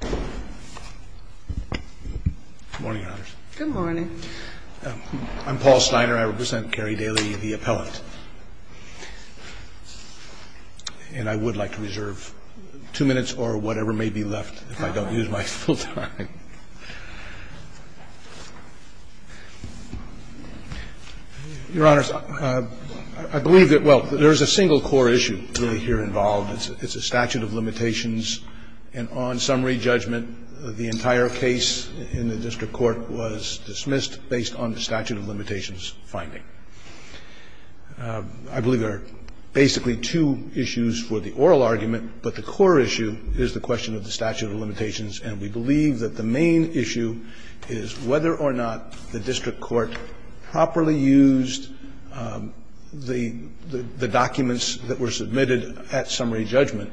Good morning, Your Honors. Good morning. I'm Paul Steiner. I represent Carey Daly, the appellant. And I would like to reserve two minutes or whatever may be left if I don't use my full time. Your Honors, I believe that, well, there is a single core issue really here involved. It's a statute of limitations. And on summary judgment, the entire case in the district court was dismissed based on the statute of limitations finding. I believe there are basically two issues for the oral argument, but the core issue is the question of the statute of limitations. And we believe that the main issue is whether or not the district court properly used the documents that were submitted at summary judgment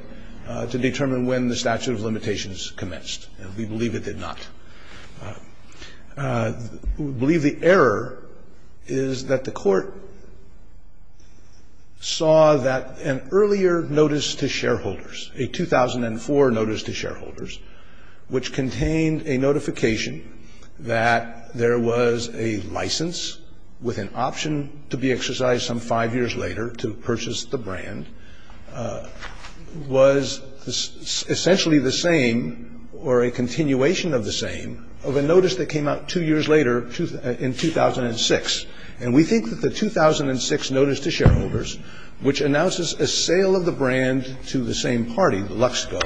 to determine when the statute of limitations commenced. And we believe it did not. We believe the error is that the court saw that an earlier notice to shareholders, a 2004 notice to shareholders, which contained a notification that there was a license with an option to be exercised some five years later to purchase the brand, was essentially the same or a continuation of the same of a notice that came out two years later in 2006. And we think that the 2006 notice to shareholders, which announces a sale of the brand to the same party, Luxco,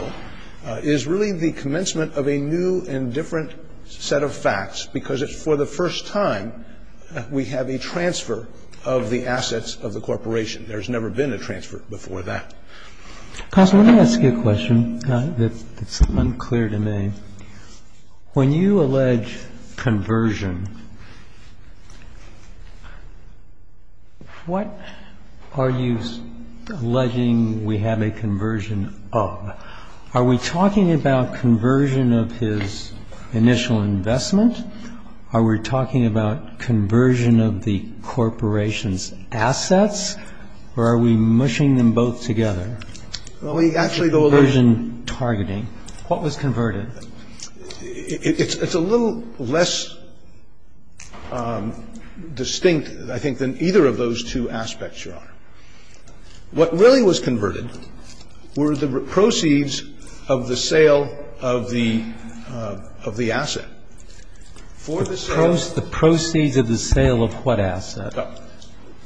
is really the commencement of a new and different set of facts, because it's for the first time we have a transfer of the assets of the corporation. There's never been a transfer before that. Roberts. When you allege conversion, what are you alleging we have a conversion of? Are we talking about conversion of his initial investment? Are we talking about conversion of the corporation's assets? Or are we mushing them both together? Well, we actually allege that. Conversion targeting. What was converted? It's a little less distinct, I think, than either of those two aspects, Your Honor. What really was converted were the proceeds of the sale of the asset. The proceeds of the sale of what asset?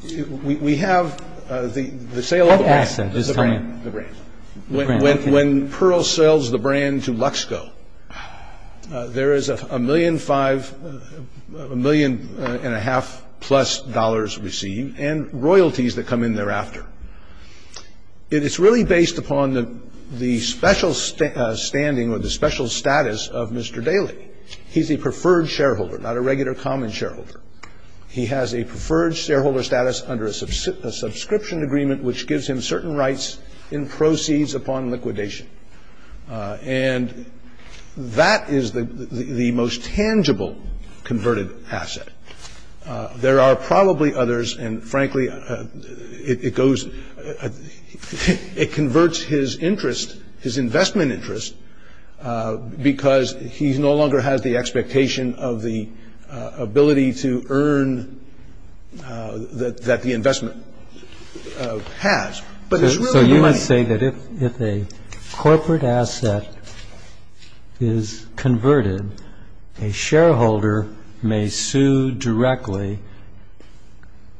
We have the sale of the brand. When Pearl sells the brand to Luxco, there is a million and a half plus dollars received and royalties that come in thereafter. And it's really based upon the special standing or the special status of Mr. Daley. He's a preferred shareholder, not a regular common shareholder. He has a preferred shareholder status under a subscription agreement, which gives him certain rights in proceeds upon liquidation. And that is the most tangible converted asset. There are probably others. And, frankly, it converts his interest, his investment interest, because he no longer has the expectation of the ability to earn that the investment has. But it's really the money. So you would say that if a corporate asset is converted, a shareholder may sue directly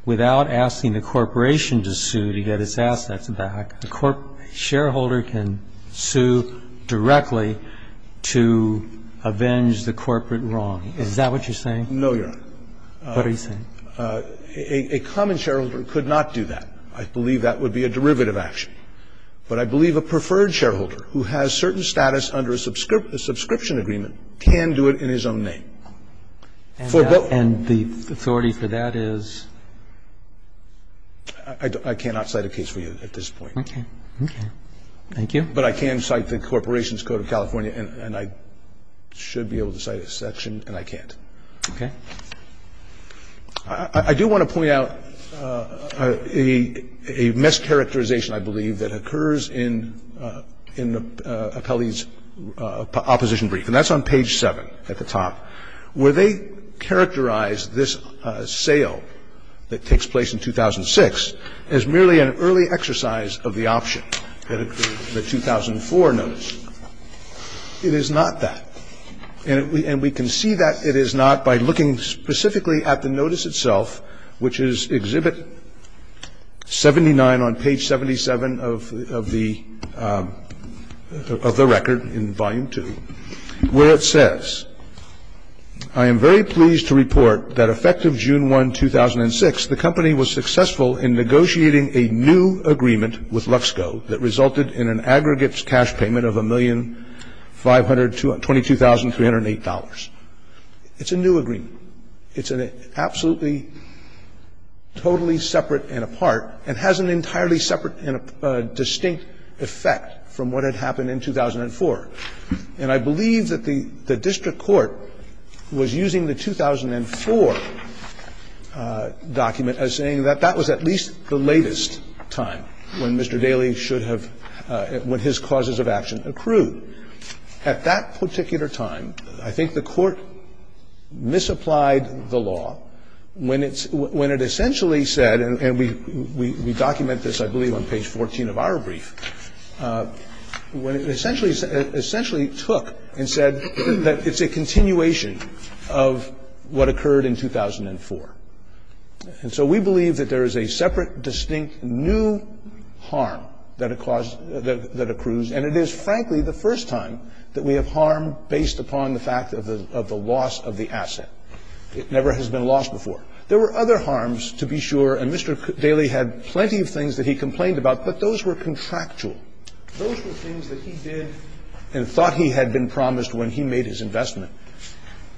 without asking the corporation to sue to get its assets back. A shareholder can sue directly to avenge the corporate wrong. Is that what you're saying? No, Your Honor. What are you saying? A common shareholder could not do that. I believe that would be a derivative action. But I believe a preferred shareholder who has certain status under a subscription agreement can do it in his own name. And the authority for that is? I cannot cite a case for you at this point. Okay. Okay. Thank you. But I can cite the Corporation's Code of California, and I should be able to cite a section, and I can't. Okay. I do want to point out a mischaracterization, I believe, that occurs in Appelli's opposition brief, and that's on page 7 at the top, where they characterize this sale that takes place in 2006 as merely an early exercise of the option that 2004 knows. It is not that. And we can see that it is not by looking specifically at the notice itself, which is Exhibit 79 on page 77 of the record in Volume 2, where it says, I am very pleased to report that effective June 1, 2006, the company was successful in negotiating a new agreement with Luxco that resulted in an aggregate cash payment of $1,522,308. It's a new agreement. It's an absolutely totally separate and apart and has an entirely separate and distinct effect from what had happened in 2004. And I believe that the district court was using the 2004 document as saying that that was at least the latest time when Mr. Daley should have, when his causes of action accrued. At that particular time, I think the court misapplied the law when it essentially said, and we document this, I believe, on page 14 of our brief, when it essentially took and said that it's a continuation of what occurred in 2004. And so we believe that there is a separate, distinct, new harm that accrues. And it is, frankly, the first time that we have harm based upon the fact of the loss of the asset. It never has been lost before. There were other harms, to be sure, and Mr. Daley had plenty of things that he complained about, but those were contractual. Those were things that he did and thought he had been promised when he made his investment.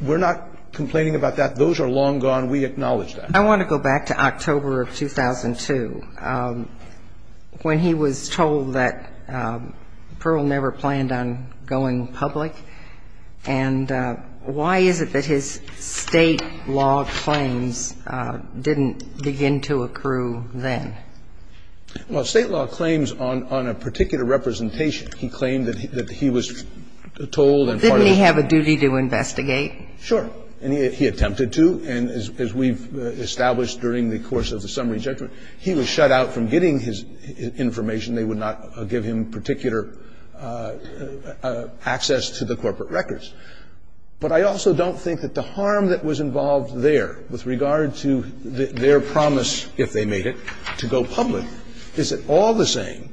We're not complaining about that. Those are long gone. We acknowledge that. I want to go back to October of 2002, when he was told that Pearl never planned on going public. And why is it that his State law claims didn't begin to accrue then? Well, State law claims on a particular representation. He claimed that he was told and part of the ---- Didn't he have a duty to investigate? Sure. And he attempted to, and as we've established during the course of the summary judgment, he was shut out from getting his information. They would not give him particular access to the corporate records. But I also don't think that the harm that was involved there with regard to their promise, if they made it, to go public, is at all the same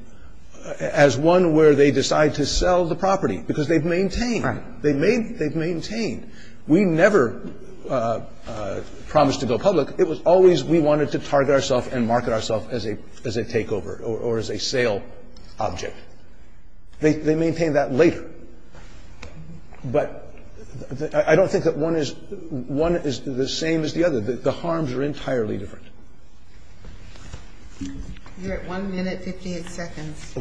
as one where they decide to sell the property, because they've maintained. Right. They've maintained. We never promised to go public. It was always we wanted to target ourself and market ourselves as a takeover or as a sale object. They maintain that later. But I don't think that one is the same as the other. The harms are entirely different. You're at 1 minute 58 seconds.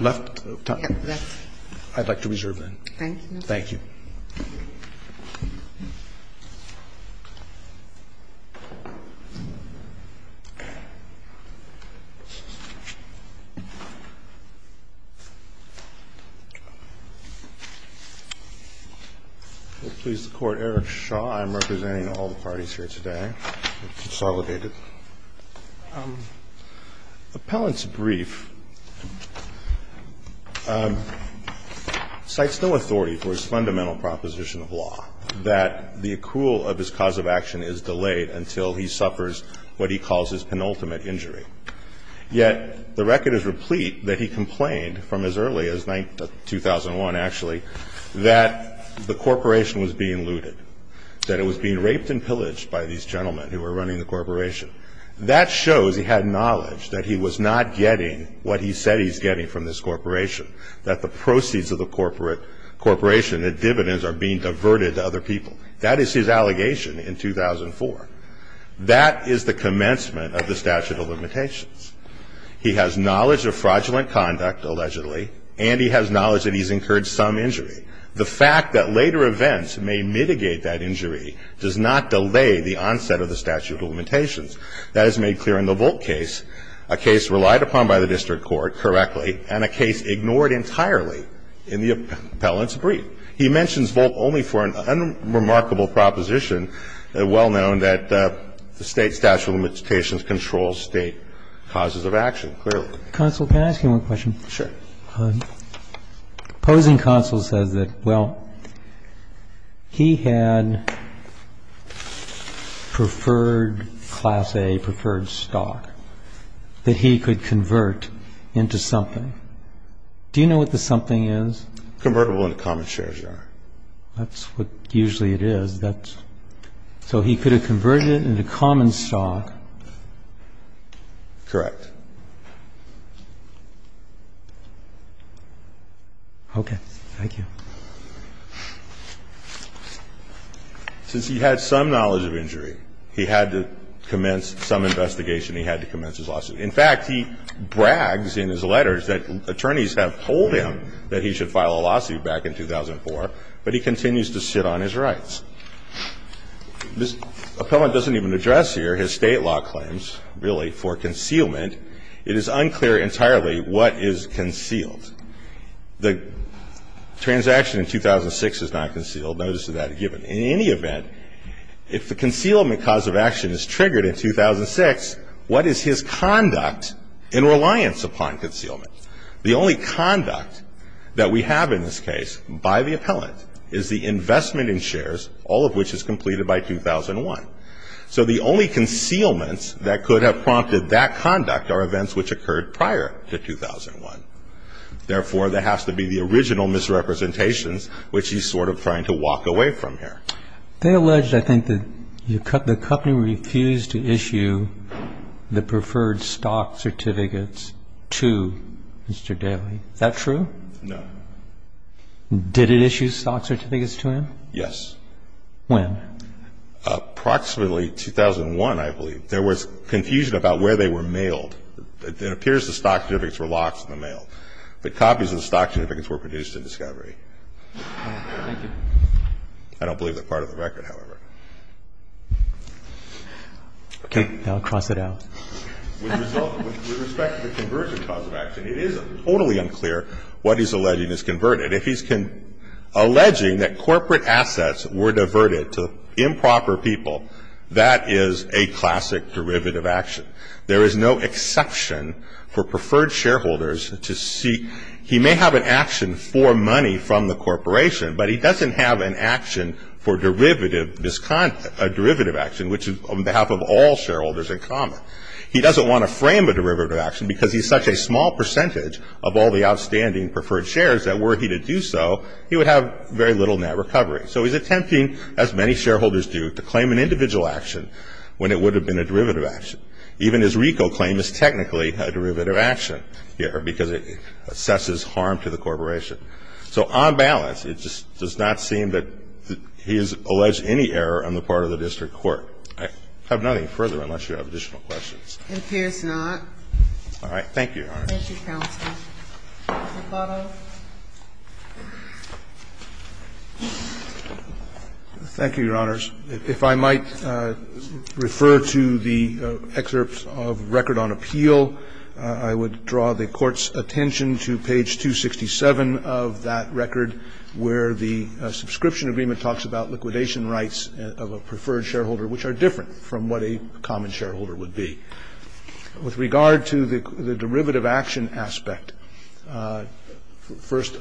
Left? Yes, left. I'd like to reserve then. Thank you. We'll please the Court. Eric Shaw. I'm representing all the parties here today. It's consolidated. The appellant's brief cites no authority for his fundamental proposition of law, that the accrual of his cause of action is delayed until he suffers what he calls his penultimate injury. Yet the record is replete that he complained from as early as 2001, actually, that the corporation was being looted, that it was being raped and pillaged by these corporations. That shows he had knowledge that he was not getting what he said he was getting from this corporation, that the proceeds of the corporation, the dividends are being diverted to other people. That is his allegation in 2004. That is the commencement of the statute of limitations. He has knowledge of fraudulent conduct, allegedly, and he has knowledge that he's incurred some injury. The fact that later events may mitigate that injury does not delay the onset of the statute of limitations. That is made clear in the Volk case, a case relied upon by the district court correctly and a case ignored entirely in the appellant's brief. He mentions Volk only for an unremarkable proposition, well known, that the State statute of limitations controls State causes of action, clearly. Can I ask you one question? Sure. The opposing counsel says that, well, he had preferred class A, preferred stock, that he could convert into something. Do you know what the something is? Convertible into common shares, Your Honor. That's what usually it is. So he could have converted it into common stock. Correct. Okay. Thank you. Since he had some knowledge of injury, he had to commence some investigation. He had to commence his lawsuit. In fact, he brags in his letters that attorneys have told him that he should file a lawsuit back in 2004, but he continues to sit on his rights. This appellant doesn't even address here his State law claims, really, for concealment. It is unclear entirely what is concealed. The transaction in 2006 is not concealed, notice of that given. In any event, if the concealment cause of action is triggered in 2006, what is his conduct in reliance upon concealment? The only conduct that we have in this case by the appellant is the investment in outstanding shares, all of which is completed by 2001. So the only concealments that could have prompted that conduct are events which occurred prior to 2001. Therefore, there has to be the original misrepresentations, which he's sort of trying to walk away from here. They allege, I think, that the company refused to issue the preferred stock certificates to Mr. Daley. Is that true? No. Did it issue stock certificates to him? Yes. When? Approximately 2001, I believe. There was confusion about where they were mailed. It appears the stock certificates were locked in the mail. The copies of the stock certificates were produced in discovery. Thank you. I don't believe they're part of the record, however. Okay. I'll cross it out. With respect to the conversion cause of action, it is totally unclear what he's alleging is converted. If he's alleging that corporate assets were diverted to improper people, that is a classic derivative action. There is no exception for preferred shareholders to seek. He may have an action for money from the corporation, but he doesn't have an action for derivative action, which is on behalf of all shareholders in common. He doesn't want to frame a derivative action because he's such a small percentage of all the outstanding preferred shares that were he to do so, he would have very little net recovery. So he's attempting, as many shareholders do, to claim an individual action when it would have been a derivative action. Even his RICO claim is technically a derivative action here because it assesses harm to the corporation. So on balance, it just does not seem that he has alleged any error on the part of the district court. I have nothing further unless you have additional questions. It appears not. All right. Thank you. Thank you, Your Honors. Thank you, counsel. Mr. Soto. Thank you, Your Honors. If I might refer to the excerpt of record on appeal, I would draw the Court's attention to page 267 of that record where the subscription agreement talks about liquidation rights of a preferred shareholder, which are different from what a common shareholder would be. With regard to the derivative action aspect, first,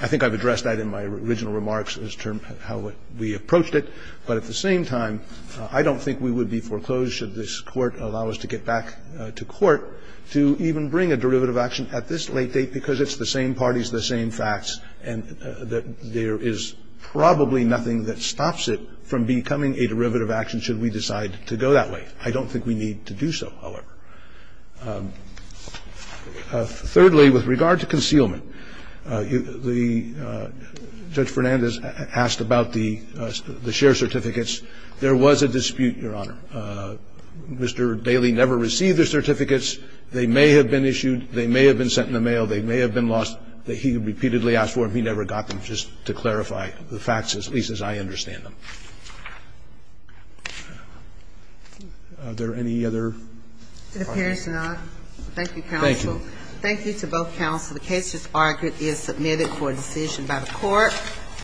I think I've addressed that in my original remarks as to how we approached it. But at the same time, I don't think we would be foreclosed, should this Court allow us to get back to court, to even bring a derivative action at this late date because it's the same parties, the same facts, and that there is probably nothing that stops it from becoming a derivative action should we decide to go that way. I don't think we need to do so, however. Thirdly, with regard to concealment, Judge Fernandez asked about the share certificates. There was a dispute, Your Honor. Mr. Bailey never received the certificates. They may have been issued. They may have been sent in the mail. They may have been lost. He repeatedly asked for them. He never got them, just to clarify the facts, at least as I understand them. Are there any other questions? It appears not. Thank you, counsel. Thank you. Thank you to both counsel. The case, as argued, is submitted for decision by the Court.